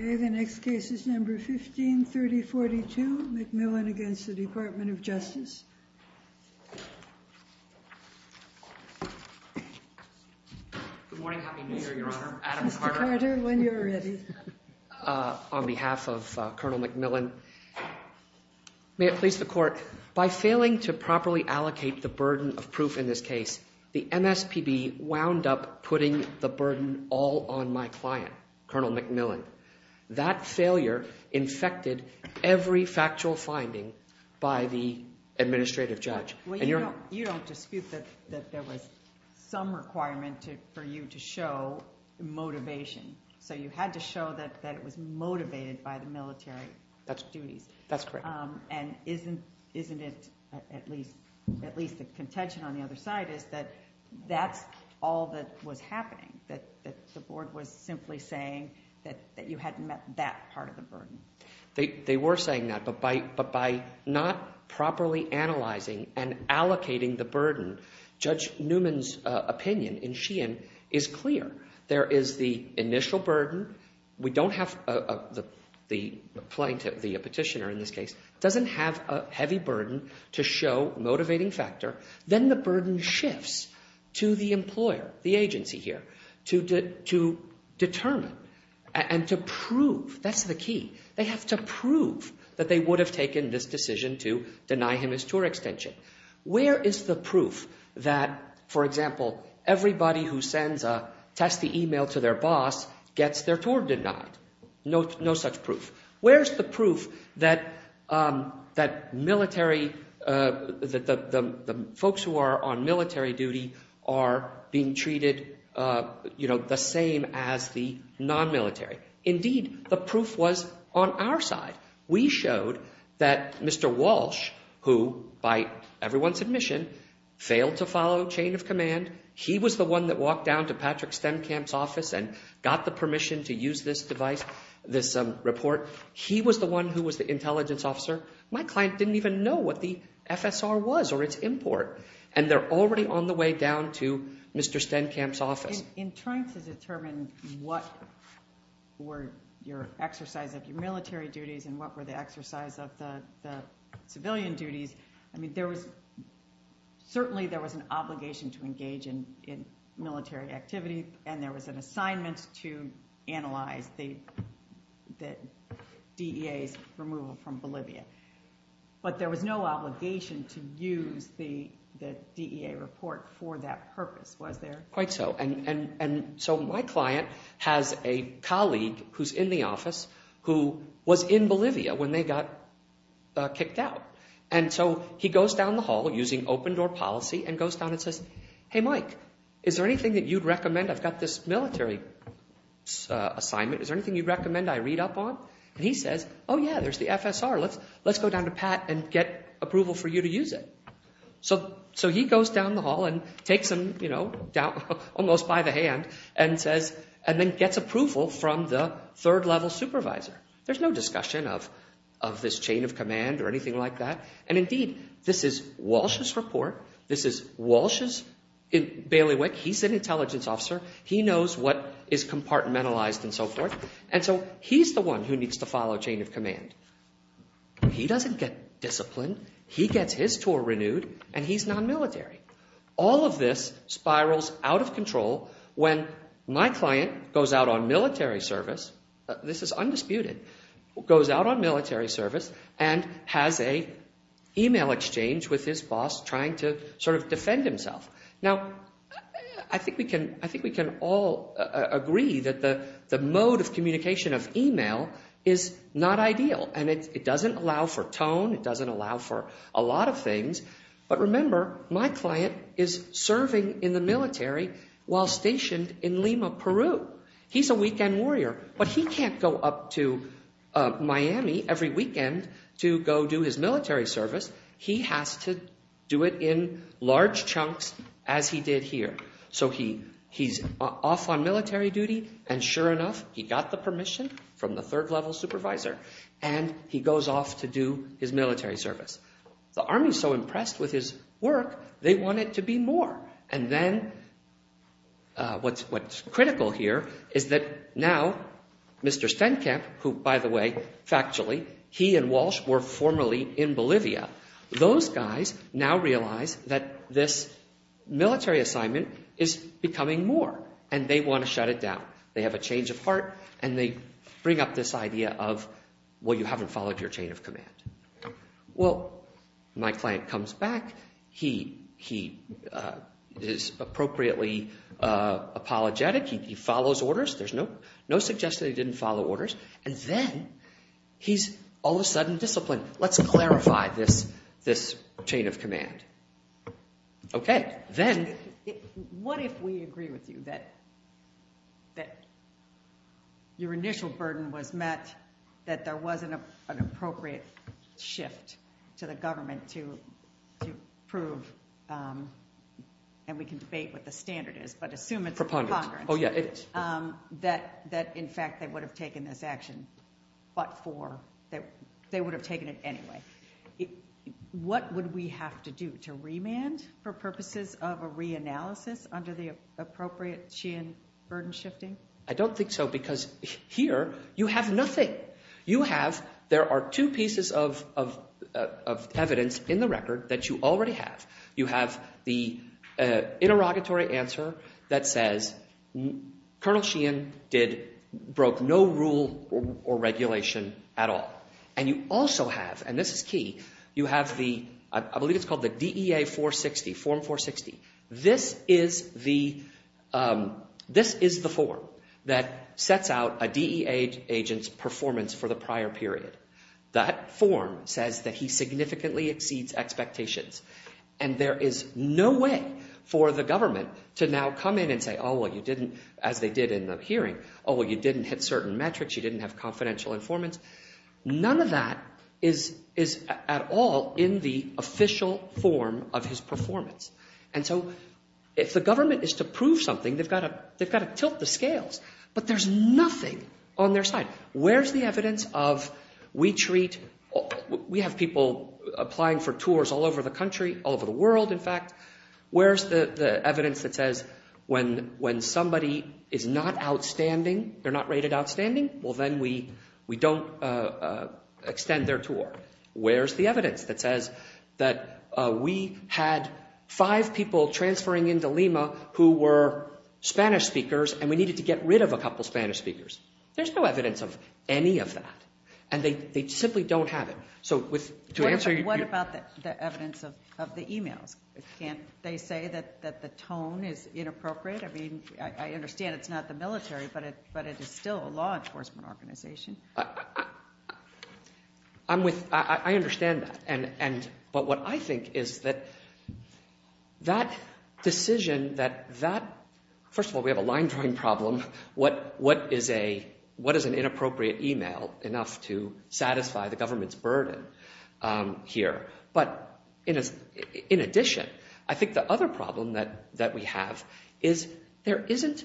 The next case is number 153042 McMillan v. DOJ Good morning. Happy New Year, Your Honor. Adam Carter. Mr. Carter, when you're ready. On behalf of Colonel McMillan, may it please the Court, by failing to properly allocate the burden of proof in this case, the MSPB wound up putting the burden all on my client, Colonel McMillan. That failure infected every factual finding by the administrative judge. Well, you don't dispute that there was some requirement for you to show motivation. So you had to show that it was motivated by the military duties. That's correct. And isn't it at least a contention on the saying that you hadn't met that part of the burden? They were saying that, but by not properly analyzing and allocating the burden, Judge Newman's opinion in Sheehan is clear. There is the initial burden. We don't have the plaintiff, the petitioner in this case, doesn't have a heavy burden to show motivating factor. Then the burden shifts to the employer, the agency here, to determine and to prove. That's the key. They have to prove that they would have taken this decision to deny him his tour extension. Where is the proof that, for example, everybody who sends a testy email to their military duty are being treated the same as the non-military? Indeed, the proof was on our side. We showed that Mr. Walsh, who by everyone's admission, failed to follow chain of command. He was the one that walked down to Patrick Stemkamp's office and got the permission to use this device, this report. He was the one who was the intelligence officer. My client didn't even know what the FSR was or its import. They're already on the way down to Mr. Stemkamp's office. In trying to determine what were your exercise of your military duties and what were the exercise of the civilian duties, certainly there was an obligation to engage in military activity and there was an assignment to analyze the DEA's removal from Bolivia. But there was no obligation to use the DEA report for that purpose, was there? Quite so. My client has a colleague who's in the office who was in Bolivia when they got kicked out. He goes down the hall using open door policy and goes down and says, Hey Mike, is there anything that you'd recommend? I've got this military assignment. Is there anything you'd recommend I read up on? He says, Oh yeah, there's the FSR. Let's go down to Pat and get approval for you to use it. So he goes down the hall and takes them almost by the hand and then gets approval from the third level supervisor. There's no discussion of this chain of command or anything like that. And indeed, this is Walsh's report. This is Walsh's, Bailey Wick, he's an intelligence officer. He knows what is compartmentalized and so forth. And so he's the one who needs to follow chain of command. He doesn't get disciplined. He gets his tour renewed and he's non-military. All of this spirals out of control when my client goes out on military service and has an email exchange with his boss trying to sort of defend himself. Now I think we can all agree that the mode of communication of email is not ideal. And it doesn't allow for tone. It doesn't allow for a lot of things. But remember, my client is serving in the military while stationed in Lima, Peru. He's a weekend warrior. But he can't go up to Miami every weekend to go do his military service. He has to do it in large chunks as he did here. So he's off on military duty and sure enough, he got the permission from the third level supervisor and he goes off to do his military service. The army is so impressed with his work, they want it to be more. And then what's critical here is that now Mr. Stenkamp, who by the way, factually, he and Walsh were formerly in Bolivia, those guys now realize that this military assignment is becoming more and they want to shut it down. They have a change of heart and they bring up this idea of, well, you haven't followed your chain of command. Well, my client comes back. He is appropriately apologetic. He follows orders. There's no suggestion he didn't follow orders. And then he's all of a sudden disciplined. Let's clarify this chain of command. Okay, then... What if we agree with you that your initial burden was met, that there wasn't an appropriate shift to the government to prove, and we can debate what the standard is, but assume it's a congruent, that in fact they would have taken this action, but for, that they would have taken it anyway. What would we have to do? To remand for purposes of a reanalysis under the appropriate Sheehan burden shifting? I don't think so because here you have nothing. You have, there are two pieces of evidence in the record that you already have. You have the interrogatory answer that says Colonel Sheehan broke no rule or regulation at all. And you also have, and this is key, you have the, I believe it's called the DEA 460, Form 460. This is the, this is the form that sets out a DEA agent's performance for the prior period. That form says that he significantly exceeds expectations. And there is no way for the government to now come in and say, oh, well, you didn't, as they did in the hearing, oh, well, you didn't hit certain metrics. You didn't have confidential informants. None of that is at all in the official form of his performance. And so if the government is to prove something, they've got to, they've got to tilt the scales. But there's nothing on their side. Where's the evidence of we treat, we have people applying for tours all over the country, all over the world, in fact. Where's the evidence that says when somebody is not outstanding, they're not rated outstanding, well, then we don't extend their tour. Where's the evidence that says that we had five people transferring into Lima who were Spanish speakers and we needed to get rid of a couple of Spanish speakers. There's no evidence of any of that. And they simply don't have it. So with, to answer your... What about the evidence of the emails? Can't they say that the tone is inappropriate? I understand it's not the military, but it is still a law enforcement organization. I understand that. But what I think is that that decision that, first of all, we have a line drawing problem. What is an inappropriate email enough to satisfy the government's burden here? But in addition, I think the other problem that we have is there isn't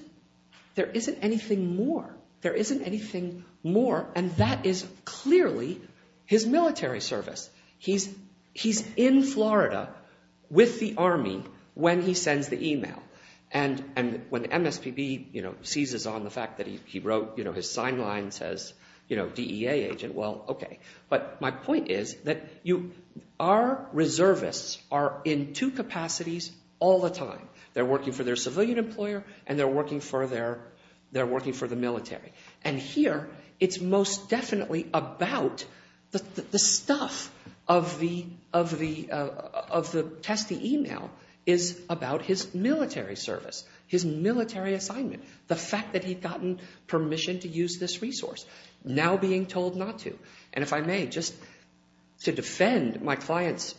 anything more. There isn't anything more. And that is clearly his military service. He's in Florida with the army when he sends the email. And when MSPB seizes on the fact that he wrote, his point is that our reservists are in two capacities all the time. They're working for their civilian employer and they're working for the military. And here, it's most definitely about the stuff of the test email is about his military service, his military assignment, the fact that he'd gotten permission to use this resource, now being told not to. And if I may, just to defend my client's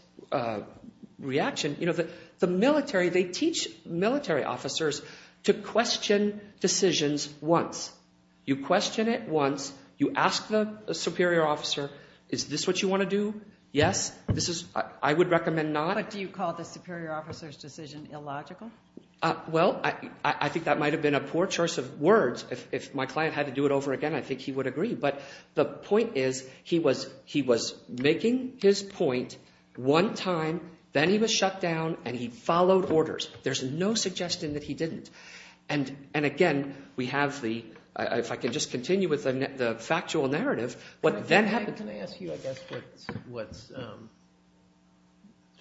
reaction, you know, the military, they teach military officers to question decisions once. You question it once. You ask the superior officer, is this what you want to do? Yes? This is... I would recommend not. But do you call the superior officer's decision illogical? Well, I think that might have been a poor choice of words. If my client had to do it over again, I think he would agree. But the point is he was making his point one time, then he was shut down, and he followed orders. There's no suggestion that he didn't. And again, we have the... If I could just continue with the factual narrative, what then happened... Can I ask you, I guess, what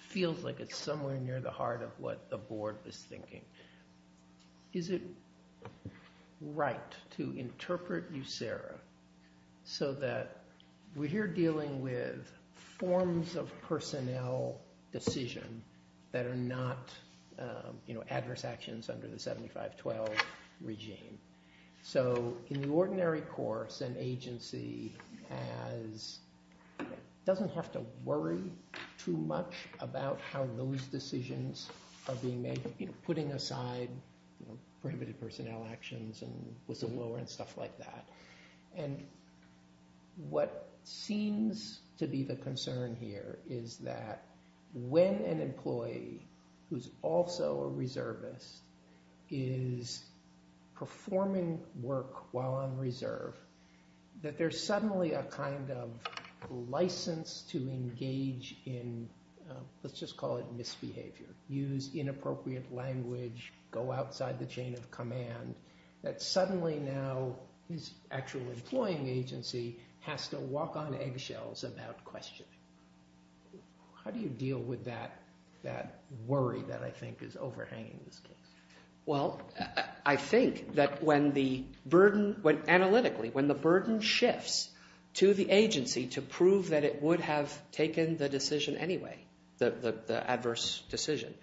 feels like it's somewhere near the heart of what the board was thinking? Is it right to interpret USARA so that we're here dealing with forms of personnel decision that are not, you know, adverse actions under the 75-12 regime. So in the ordinary course, an agency doesn't have to worry too much about how those decisions are being made, putting aside prohibited personnel actions and whistleblower and stuff like that. And what seems to be the concern here is that when an employee who's also a reservist is performing work while on reserve, that there's suddenly a kind of license to engage in, let's just call it misbehavior, use inappropriate language, go outside the chain of command, that suddenly now his actual employing agency has to walk on eggshells about questioning. How do you deal with that worry that I think is overhanging this case? Well, I think that when the burden, analytically, when the burden shifts to the agency to prove that it would have taken the decision anyway, the adverse decision,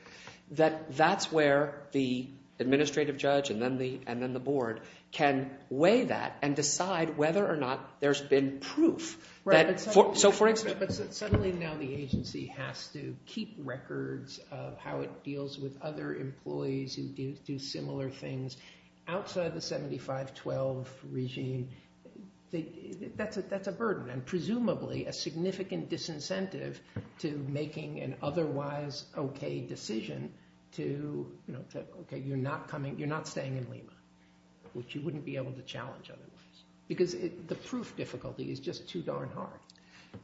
that that's where the administrative judge and then the board can weigh that and decide whether or not there's been a proof that, so for instance... But suddenly now the agency has to keep records of how it deals with other employees who do similar things outside the 75-12 regime. That's a burden and presumably a significant disincentive to making an otherwise okay decision to, you know, okay, you're not coming, you're not staying in Lima, which you wouldn't be able to challenge otherwise. Because the proof difficulty is just too darn hard.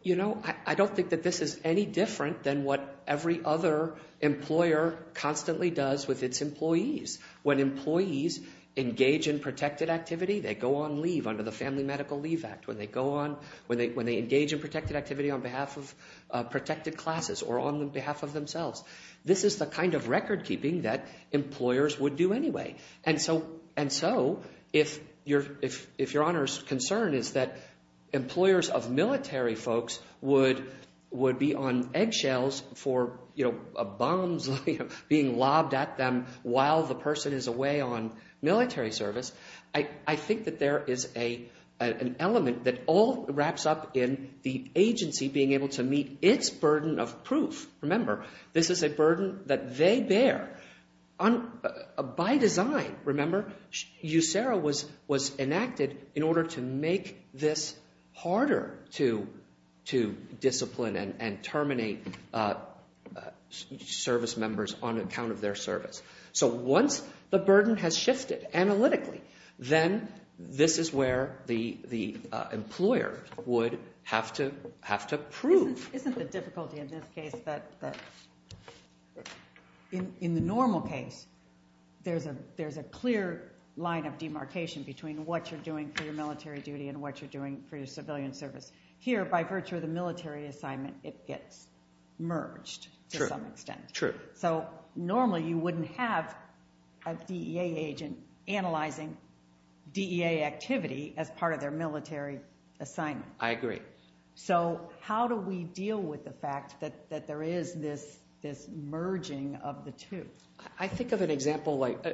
You know, I don't think that this is any different than what every other employer constantly does with its employees. When employees engage in protected activity, they go on leave under the Family Medical Leave Act. When they go on, when they engage in protected activity on behalf of protected classes or on behalf of themselves. This is the kind of record keeping that employers would do anyway. And so, if your Honor's concern is that employers of military folks would be on eggshells for, you know, bombs being lobbed at them while the person is away on military service, I think that there is an element that all wraps up in the agency being able to meet its burden of proof. Remember, this is a burden that they bear. By design, remember, USERA was enacted in order to make this harder to discipline and terminate service members on account of their service. So once the burden has shifted analytically, then this is where the employer would have to prove. Isn't the difficulty in this case that in the normal case, there's a clear line of demarcation between what you're doing for your military duty and what you're doing for your civilian service. Here, by virtue of the military assignment, it gets merged to some extent. True. So normally you wouldn't have a DEA agent analyzing DEA activity as part of their military assignment. I agree. So how do we deal with the fact that there is this merging of the two? I think of an example like,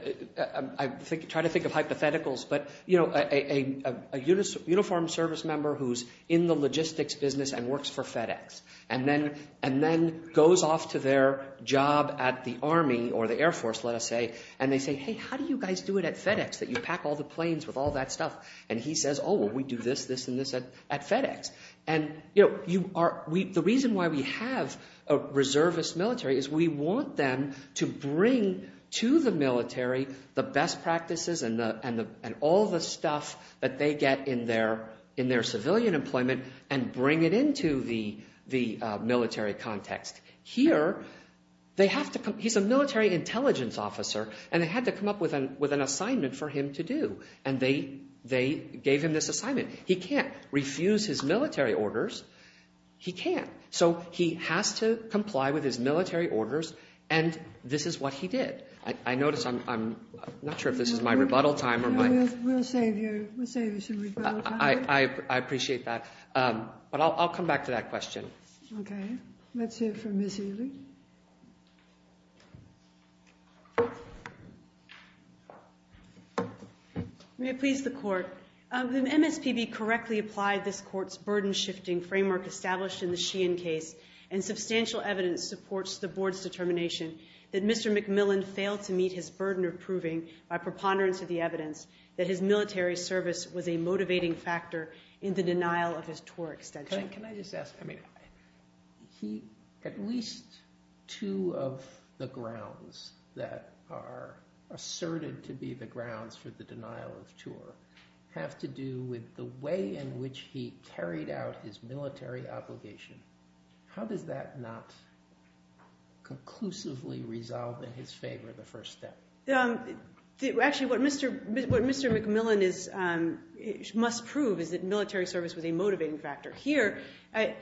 I try to think of hypotheticals, but, you know, a uniformed service member who's in the logistics business and works for FedEx and then goes off to their job at the Army or the Air Force, let us say, and they say, hey, how do you guys do it at FedEx that you pack all the planes with all that stuff? And he says, oh, well, we do this, this, and this at FedEx. And, you know, the reason why we have a reservist military is we want them to bring to the military the best practices and all the stuff that they get in their civilian employment and bring it into the military context. Here, he's a military intelligence officer, and they had to come up with an assignment for him to do. And they gave him this assignment. He can't refuse his military orders. He can't. So he has to comply with his military orders, and this is what he did. I notice I'm not sure if this is my rebuttal time or my... We'll save you some rebuttal time. I appreciate that. But I'll come back to that question. Okay. Let's hear from Ms. Ely. May it please the Court. The MSPB correctly applied this Court's burden-shifting framework established in the Sheehan case, and substantial evidence supports the Board's determination that Mr. McMillan failed to meet his burden of proving by preponderance of the evidence that his military service was a motivating factor in the denial of his tour extension. Can I just ask? At least two of the grounds that are asserted to be the grounds for the denial of tour have to do with the way in which he carried out his military obligation. How does that not conclusively resolve in his favor the first step? Actually, what Mr. McMillan must prove is that military service was a motivating factor. Here, at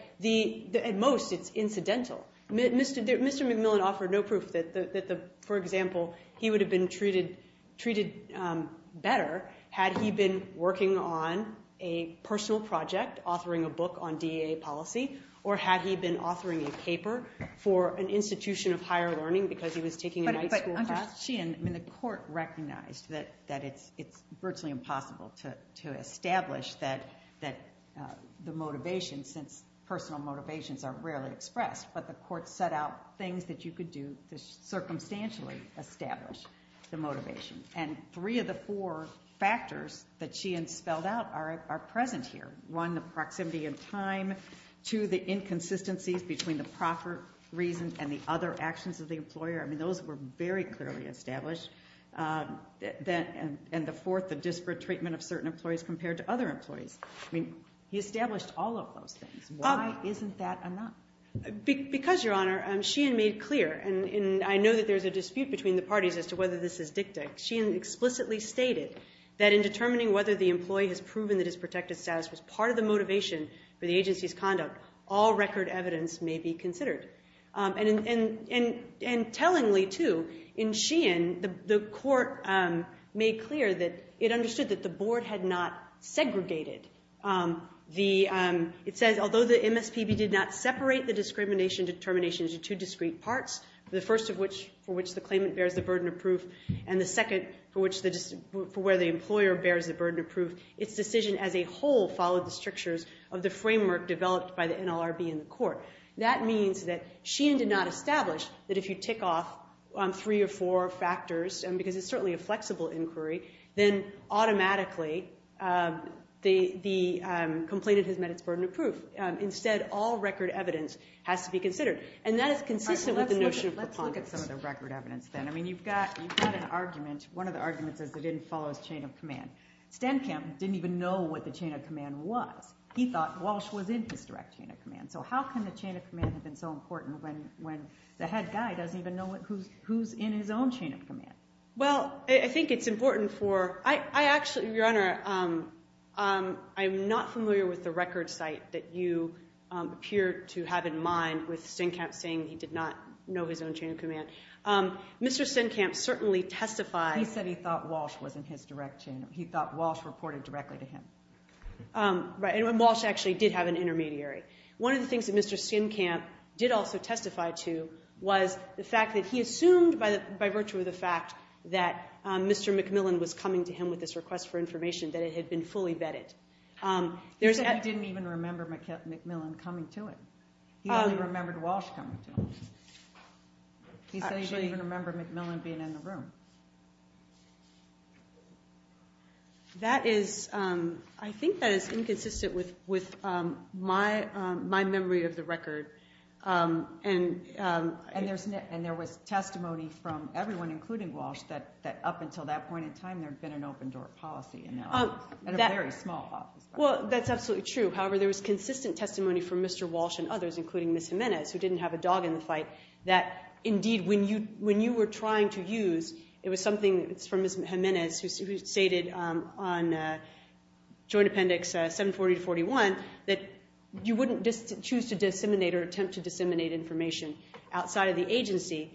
most, it's incidental. Mr. McMillan offered no proof that, for example, he would have been treated better had he been working on a personal project, authoring a book on DEA policy, or had he been authoring a paper for an institution of higher learning because he was taking a night school class. The court recognized that it's virtually impossible to establish the motivation since personal motivations are rarely expressed, but the court set out things that you could do to circumstantially establish the motivation. Three of the four factors that Sheehan spelled out are present here. One, the proximity in time. Two, the inconsistencies between the proper reasons and the other actions of the employer. Those were very clearly established. And the fourth, the disparate treatment of certain employees compared to other employees. He established all of those things. Why isn't that enough? Because, Your Honor, Sheehan made clear, and I know that there's a dispute between the parties as to whether this is dicta. Sheehan explicitly stated that in determining whether the employee has proven that his protected status was part of the motivation for the agency's conduct, all record evidence may be considered. And tellingly, too, in Sheehan, the court made clear that it understood that the board had not segregated. It says, although the MSPB did not separate the discrimination determination into two discrete parts, the first for which the claimant bears the burden of proof and the second for where the employer bears the burden of proof, its decision as a whole followed the strictures of the framework developed by the NLRB in the court. That means that Sheehan did not establish that if you tick off three or four factors, because it's certainly a flexible inquiry, then automatically the complainant has met its burden of proof. Instead, all record evidence has to be considered. And that is consistent with the notion of preponderance. Let's look at some of the record evidence then. I mean, you've got an argument. One of the arguments is it didn't follow his chain of command. Stenkamp didn't even know what the chain of command was. He thought Walsh was in his direct chain of command. So how can the chain of command have been so important when the head guy doesn't even know who's in his own chain of command? Well, I think it's important for... Your Honor, I'm not familiar with the record site that you appear to have in mind with Stenkamp saying he did not know his own chain of command. Mr. Stenkamp certainly testified... He said he thought Walsh was in his direct chain of command. He thought Walsh reported directly to him. Right, and Walsh actually did have an intermediary. One of the things that Mr. Stenkamp did also testify to was the fact that he assumed by virtue of the fact that Mr. McMillan was coming to him with this request for information that it had been fully vetted. He said he didn't even remember McMillan coming to him. He only remembered Walsh coming to him. He said he didn't even remember McMillan being in the room. That is... I think that is inconsistent with my memory of the record. And there was testimony from everyone, including Walsh, that up until that point in time there had been an open-door policy in a very small office. Well, that's absolutely true. However, there was consistent testimony from Mr. Walsh and others, including Ms. Jimenez, who didn't have a dog in the fight, that indeed when you were trying to use, it was something from Ms. Jimenez, who stated on Joint Appendix 740-41, that you wouldn't choose to disseminate or attempt to disseminate information outside of the agency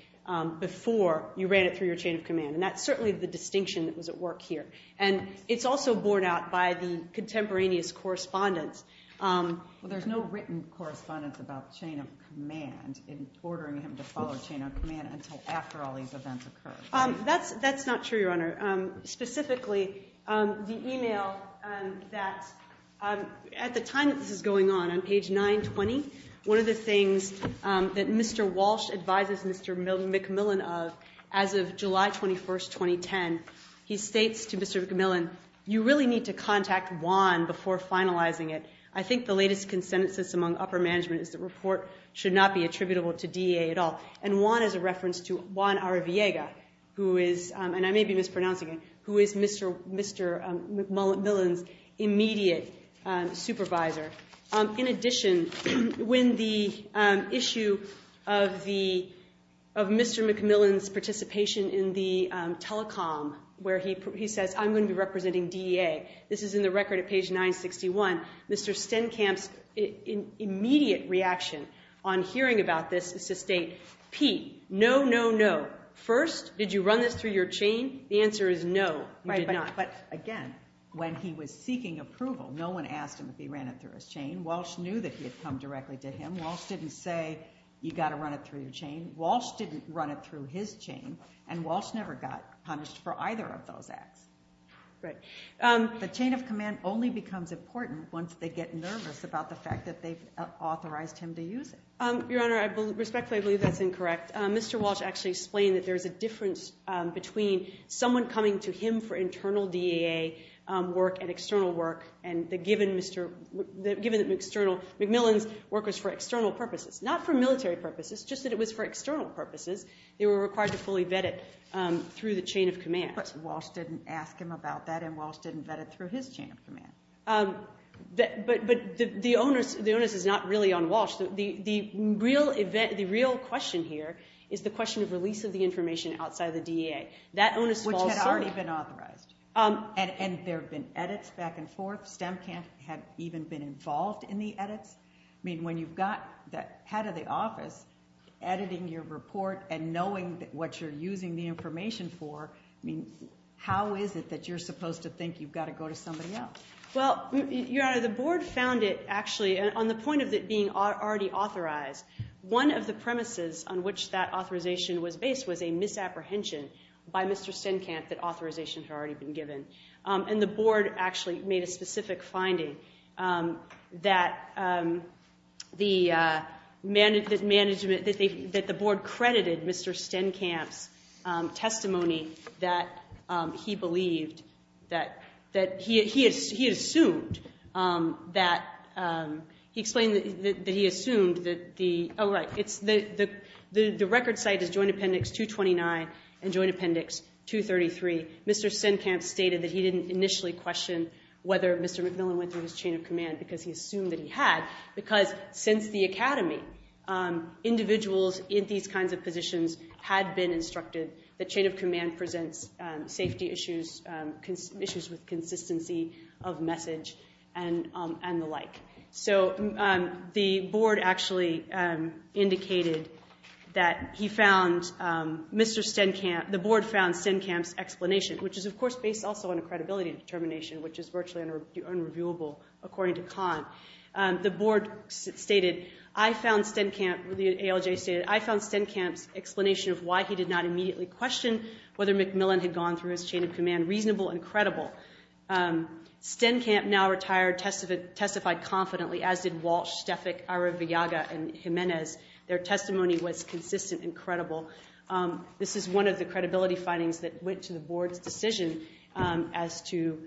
before you ran it through your chain of command. And that's certainly the distinction that was at work here. And it's also borne out by the contemporaneous correspondence. Well, there's no written correspondence about the chain of command ordering him to follow chain of command until after all these events occurred. That's not true, Your Honor. Specifically, the email that... At the time that this is going on, on page 920, one of the things that Mr. Walsh advises Mr. McMillan of, as of July 21st, 2010, he states to Mr. McMillan, you really need to contact WAN before finalizing it. I think the latest consensus among upper management is the report should not be attributable to DEA at all. And WAN is a reference to Juan Arriviega, who is, and I may be mispronouncing it, who is Mr. McMillan's immediate supervisor. In addition, when the issue of the... of Mr. McMillan's participation in the telecom, where he says, I'm going to be representing DEA, this is in the record at page 961, Mr. Stenkamp's immediate reaction on hearing about this is to state, Pete, no, no, no. First, did you run this through your chain? The answer is no, you did not. But again, when he was seeking approval, no one asked him if he ran it through his chain. Walsh knew that he had come directly to him. Walsh didn't say, you got to run it through your chain. Walsh didn't run it through his chain, and Walsh never got punished for either of those acts. Right. The chain of command only becomes important once they get nervous about the fact that they've authorized him to use it. Your Honour, respectfully, I believe that's incorrect. Mr. Walsh actually explained that there's a difference between someone coming to him for internal DEA work and external work, and that given Mr... given that McMillan's work was for external purposes, not for military purposes, just that it was for external purposes, they were required to fully vet it through the chain of command. But Walsh didn't ask him about that, and Walsh didn't vet it through his chain of command. But the onus is not really on Walsh. The real question here is the question of release of the information outside of the DEA. That onus falls... Which had already been authorized. And there have been edits back and forth. STEMCAMP had even been involved in the edits. I mean, when you've got the head of the office editing your report and knowing what you're using the information for, I mean, how is it that you're supposed to think you've got to go to somebody else? Well, Your Honour, the board found it actually... On the point of it being already authorized, one of the premises on which that authorization was based was a misapprehension by Mr. STEMCAMP that authorizations had already been given. And the board actually made a specific finding that the management... that the board credited Mr. STEMCAMP's testimony that he believed... that he assumed that... He explained that he assumed that the... Oh, right. The record site is Joint Appendix 229 and Joint Appendix 233. Mr. STEMCAMP stated that he didn't initially question whether Mr. McMillan went through his chain of command because he assumed that he had. Because since the academy, individuals in these kinds of positions had been instructed that chain of command presents safety issues, issues with consistency of message, and the like. So the board actually indicated that he found... Mr. STEMCAMP... The board found STEMCAMP's explanation, which is, of course, based also on a credibility determination, which is virtually unreviewable, according to Kahn. The board stated, I found STEMCAMP... of why he did not immediately question whether McMillan had gone through his chain of command reasonable and credible. STEMCAMP now retired, testified confidently, as did Walsh, Stefik, Araviaga, and Jimenez. Their testimony was consistent and credible. This is one of the credibility findings that went to the board's decision as to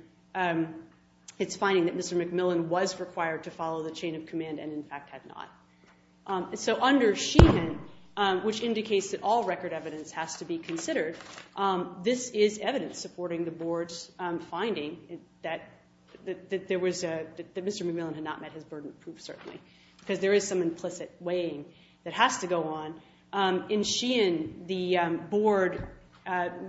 its finding that Mr. McMillan was required to follow the chain of command and, in fact, had not. So under Sheehan, which indicates that all record evidence has to be considered, this is evidence supporting the board's finding that Mr. McMillan had not met his burden of proof, certainly, because there is some implicit weighing that has to go on. In Sheehan, the board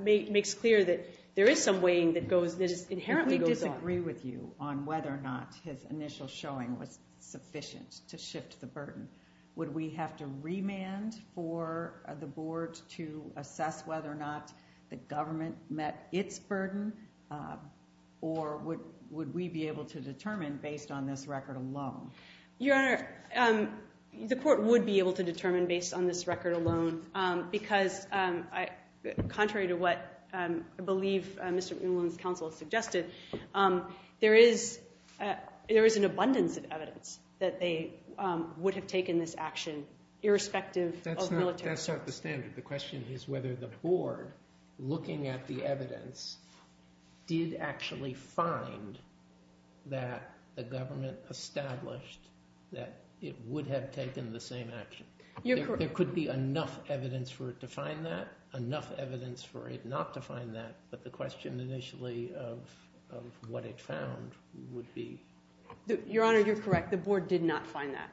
makes clear that there is some weighing that inherently goes on. If we disagree with you on whether or not his initial showing was sufficient to shift the burden, would we have to remand for the board to assess whether or not the government met its burden, or would we be able to determine based on this record alone? Your Honor, the court would be able to determine based on this record alone, because, contrary to what I believe Mr. McMillan's counsel suggested, there is an abundance of evidence that they would have taken this action irrespective of military. That's not the standard. The question is whether the board, looking at the evidence, did actually find that the government established that it would have taken the same action. There could be enough evidence for it to find that, enough evidence for it not to find that, but the question initially of what it found would be... Your Honor, you're correct. The board did not find that.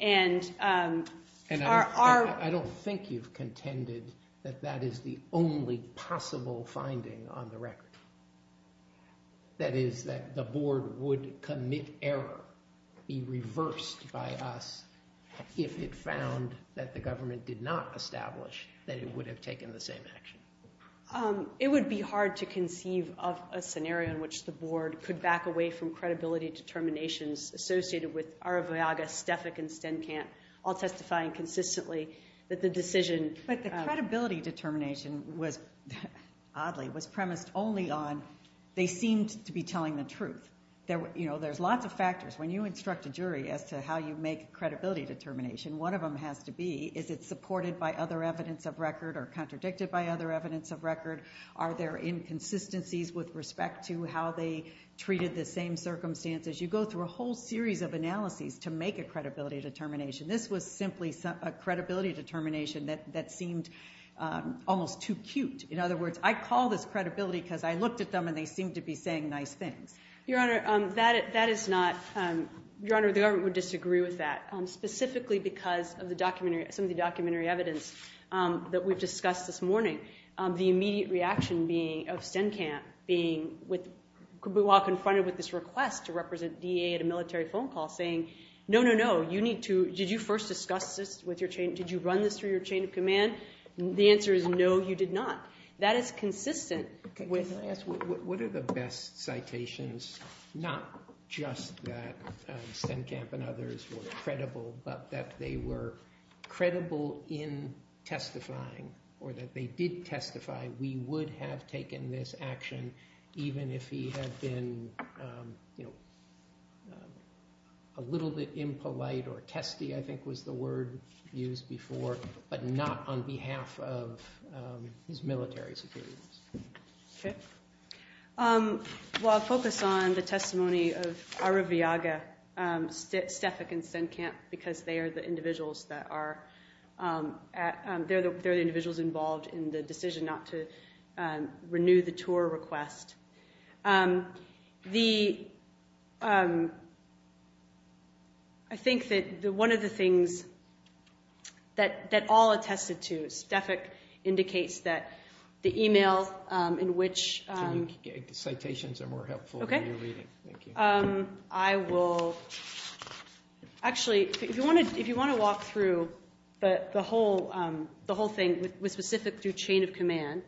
And our... I don't think you've contended that that is the only possible finding on the record. That is, that the board would commit error, be reversed by us, if it found that the government did not establish that it would have taken the same action. It would be hard to conceive of a scenario in which the board could back away from credibility determinations associated with Araviaga, Stefik, and Stenkamp, all testifying consistently that the decision... But the credibility determination was, oddly, was premised only on, they seemed to be telling the truth. There's lots of factors. When you instruct a jury as to how you make credibility determination, one of them has to be, is it supported by other evidence of record or contradicted by other evidence of record? Are there inconsistencies with respect to how they make a whole series of analyses to make a credibility determination? This was simply a credibility determination that seemed almost too cute. In other words, I call this credibility because I looked at them and they seemed to be saying nice things. Your Honor, that is not... Your Honor, the government would disagree with that, specifically because of some of the documentary evidence that we've discussed this morning. The immediate reaction of Stenkamp being, while confronted with this request to represent DEA at a military phone call, saying, no, no, no, you need to... Did you first discuss this with your chain... Did you run this through your chain of command? The answer is, no, you did not. That is consistent with... Can I ask, what are the best citations, not just that Stenkamp and others were credible, but that they were credible in testifying, or that they did testify, we would have taken this action even if he had been a little bit impolite or testy, I think was the word used before, but not on behalf of his military superiors. Okay. Well, I'll focus on the testimony of Araviaga, Stefik, and Stenkamp because they are the individuals that are... They're the individuals involved in the decision not to renew the tour request. I think that one of the things that all attested to, Stefik indicates that the email in which... The citations are more helpful than your reading. I will... Actually, if you want to walk through the whole thing with specific chain of command...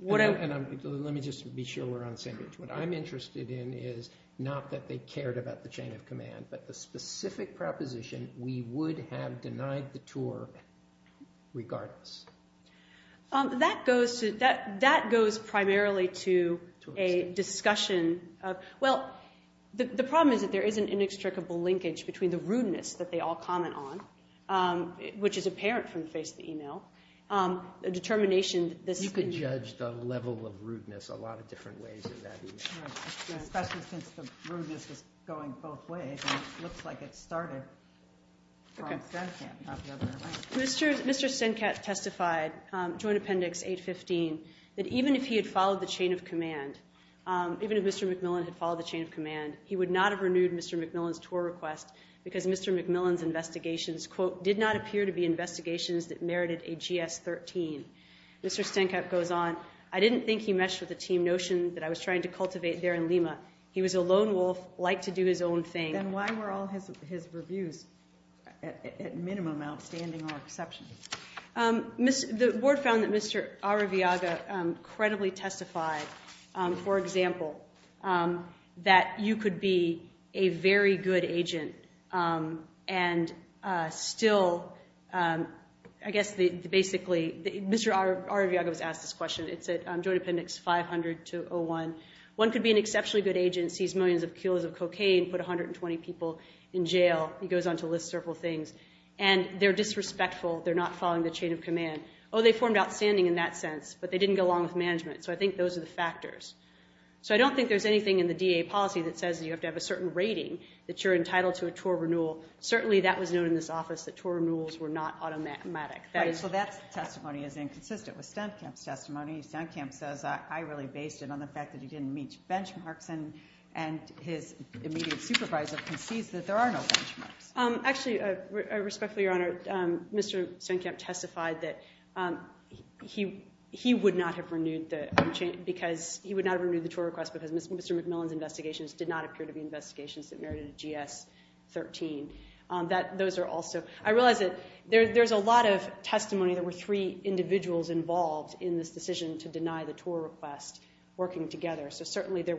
Let me just be sure we're on the same page. What I'm interested in is not that they cared about the chain of command, but the specific proposition we would have denied the tour regardless. That goes primarily to a discussion of... Well, the problem is that there is an inextricable linkage between the rudeness that they all comment on, which is apparent from the face of the email. You can judge the level of rudeness a lot of different ways in that email. Especially since the rudeness is going both ways. It looks like it started from Stenkamp. Mr. Stenkamp testified, Joint Appendix 815, that even if he had followed the chain of command, even if Mr. McMillan had followed the chain of command, he would not have renewed Mr. McMillan's tour request because Mr. McMillan's investigations, quote, did not appear to be investigations that merited a GS-13. Mr. Stenkamp goes on, I didn't think he meshed with the team notion that I was trying to cultivate there in Lima. He was a lone wolf, liked to do his own thing. Then why were all his reviews at minimum outstanding or exceptional? The board found that Mr. Araviaga credibly testified, for example, that you could be a very good agent and still, I guess basically, Mr. Araviaga was asked this question. It's at Joint Appendix 500-01. One could be an exceptionally good agent, seize millions of kilos of cocaine, put 120 people in jail. He goes on to list several things. And they're disrespectful, they're not following the chain of command. So I think those are the factors. So I don't think there's anything in the DA policy that says you have to have a certain rating that you're entitled to a tour renewal. Certainly that was known in this office, that tour renewals were not automatic. Right, so that testimony is inconsistent with Stenkamp's testimony. Stenkamp says, I really based it on the fact that he didn't meet benchmarks and his immediate supervisor concedes that there are no benchmarks. Actually, respectfully, Your Honor, Mr. Stenkamp testified that he would not have renewed the tour request because Mr. McMillan's investigations did not appear to be investigations that merited a GS-13. I realize that there's a lot of testimony that there were three individuals involved in this decision to deny the tour request working together. So certainly there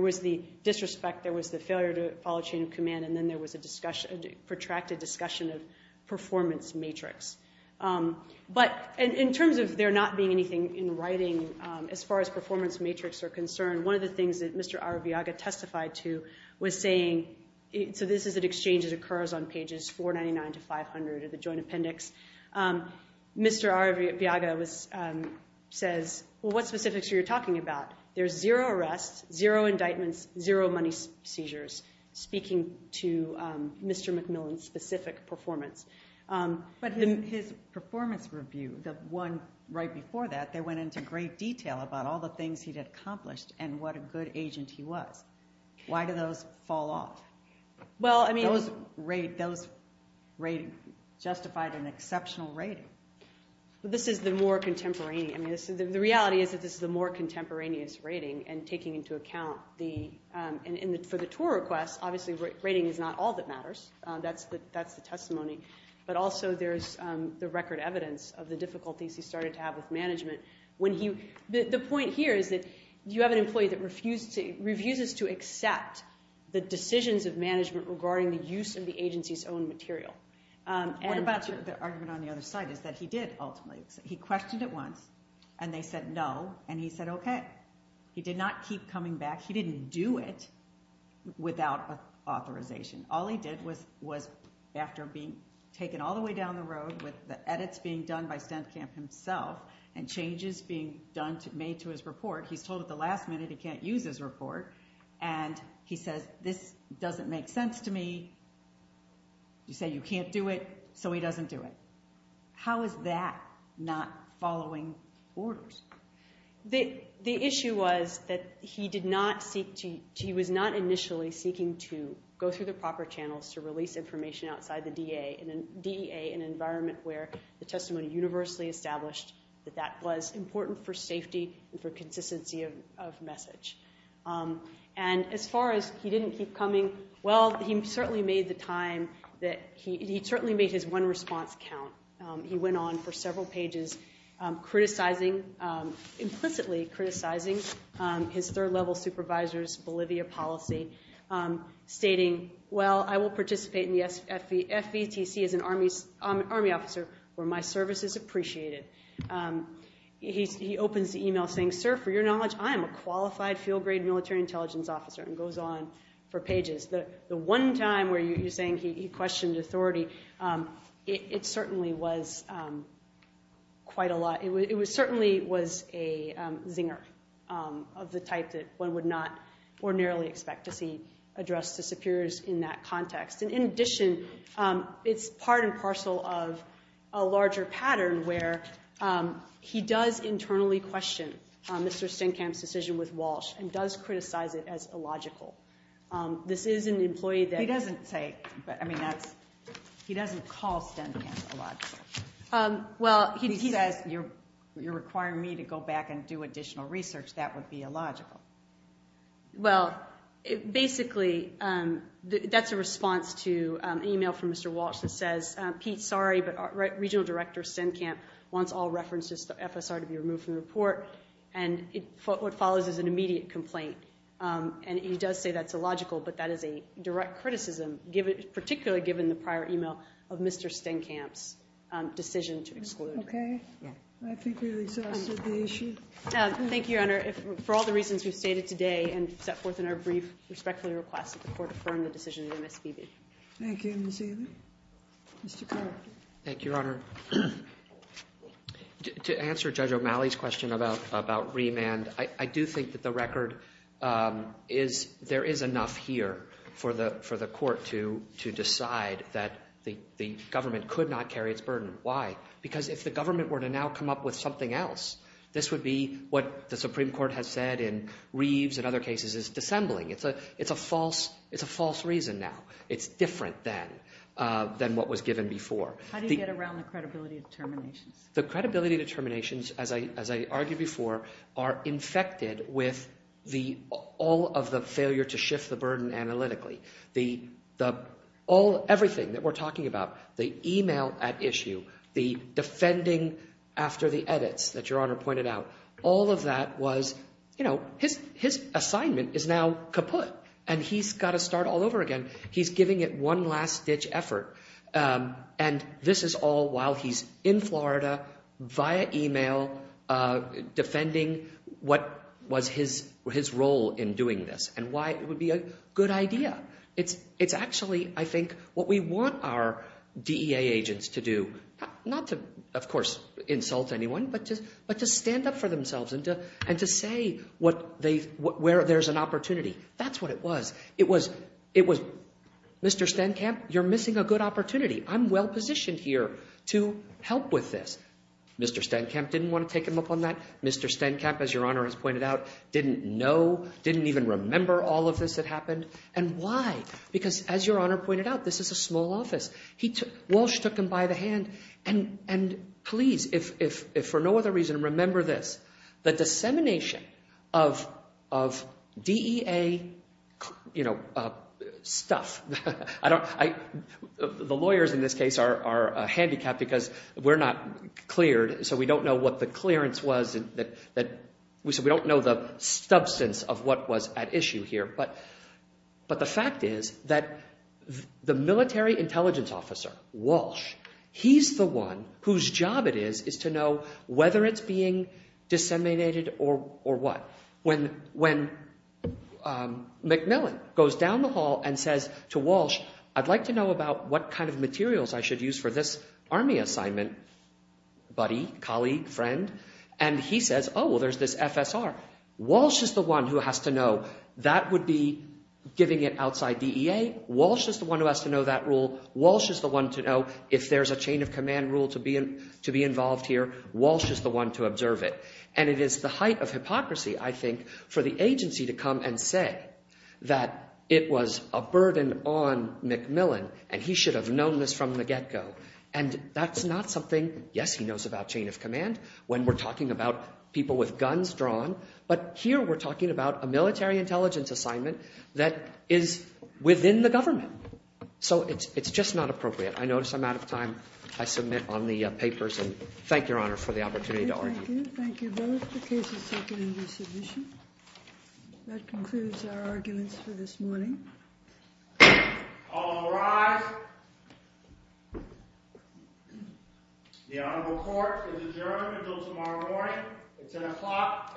was the disrespect, there was the failure to follow chain of command, and then there was a protracted discussion of performance matrix. But in terms of there not being anything in writing as far as performance matrix are concerned, one of the things that Mr. Araviaga testified to was saying, so this is an exchange that occurs on pages 499 to 500 of the joint appendix. Mr. Araviaga says, well, what specifics are you talking about? There's zero arrests, zero indictments, zero money seizures speaking to Mr. McMillan's specific performance. But in his performance review, the one right before that, they went into great detail about all the things he'd accomplished and what a good agent he was. Why do those fall off? Those rate justified an exceptional rating. This is the more contemporaneous... The reality is that this is the more contemporaneous rating and taking into account the... For the tour request, obviously rating is not all that matters. That's the testimony, but also there's the record evidence of the difficulties he started to have with management. The point here is that you have an employee that refuses to accept the decisions of management regarding the use of the agency's own material. What about the argument on the other side is that he did ultimately... He questioned it once, and they said no, and he said okay. He did not keep coming back. He didn't do it without authorization. All he did was, after being taken all the way down the road with the edits being done by StentCamp himself and changes being made to his report, he's told at the last minute he can't use his report, and he says, this doesn't make sense to me. You say you can't do it, so he doesn't do it. How is that not following orders? The issue was that he was not initially seeking to go through the proper channels to release information outside the DEA, an environment where the testimony universally established that that was important for safety and for consistency of message. As far as he didn't keep coming, he certainly made his one response count. He went on for several pages criticizing, implicitly criticizing his third-level supervisor's Bolivia policy, stating, well, I will participate in the FVTC as an Army officer where my service is appreciated. He opens the email saying, sir, for your knowledge, I am a qualified field-grade military intelligence officer, and goes on for pages. The one time where you're saying he questioned authority, it certainly was quite a lot. It certainly was a zinger of the type that one would not ordinarily expect to see addressed to superiors in that context. In addition, it's part and parcel of a larger pattern where he does internally question Mr. Stenkamp's decision with Walsh and does criticize it as illogical. This is an employee that... He doesn't call Stenkamp illogical. He says, you're requiring me to go back and do additional research. That would be illogical. Well, basically, that's a response to an email from Mr. Walsh that says, Pete, sorry, but our regional director, Stenkamp, wants all references to FSR to be removed from the report, and what follows is an immediate complaint. And he does say that's illogical, but that is a prior email of Mr. Stenkamp's decision to exclude. Okay. I think we've exhausted the issue. Thank you, Your Honor. For all the reasons we've stated today and set forth in our brief, respectfully request that the Court affirm the decision of the MSPB. Thank you, Ms. Haley. Mr. Carter. Thank you, Your Honor. To answer Judge O'Malley's question about remand, I do think that the record there is enough here for the Court to decide that the government could not carry its burden. Why? Because if the government were to now come up with something else, this would be what the Supreme Court has said in Reeves and other cases as dissembling. It's a false reason now. It's different than what was given before. How do you get around the credibility determinations? The credibility determinations, as I argued before, are infected with all of the failure to shift the burden analytically. Everything that we're talking about, the email at issue, the defending after the edits that Your Honor pointed out, all of that was, you know, his assignment is now kaput and he's got to start all over again. He's giving it one last-ditch effort and this is all while he's in Florida via email defending what was his role in doing this and why it would be a good idea. It's actually, I think, what we want our DEA agents to do. Not to, of course, insult anyone, but to stand up for themselves and to say where there's an opportunity. That's what it was. Mr. Stenkamp, you're missing a good opportunity. I'm well positioned here to help with this. Mr. Stenkamp didn't want to take him up on that. Mr. Stenkamp, as Your Honor has pointed out, didn't know, didn't even remember all of this that happened and why? Because, as Your Honor pointed out, this is a small office. Walsh took him by the hand and please, if for no other reason, remember this. The dissemination of DEA, you know, stuff. The lawyers in this case are a handicap because we're not cleared, so we don't know what the clearance was. We don't know the substance of what was at issue here. But the fact is that the military intelligence officer, Walsh, he's the one whose job it is to know whether it's being disseminated or what. When McMillan goes down the hall and says to Walsh, I'd like to know about what kind of materials I should use for this army assignment, buddy, colleague, friend, and he says, oh, well, there's this FSR. Walsh is the one who has to know that would be giving it outside DEA. Walsh is the one who has to know that rule. Walsh is the one to know if there's a chain of command rule to be involved here. Walsh is the one to observe it. And it is the height of hypocrisy, I think, for the agency to come and say that it was a burden on McMillan and he should have known this from the get-go. And that's not something, yes, he knows about chain of command when we're talking about people with guns drawn, but here we're talking about a military intelligence assignment that is within the government. So it's just not appropriate. I notice I'm out of time. I submit on the papers and thank Your Honor for the opportunity to argue. Thank you. Thank you both. The case is seconded in dissolution. That concludes our arguments for this morning. All rise. The honorable court is adjourned until tomorrow morning. It's 10 o'clock a.m.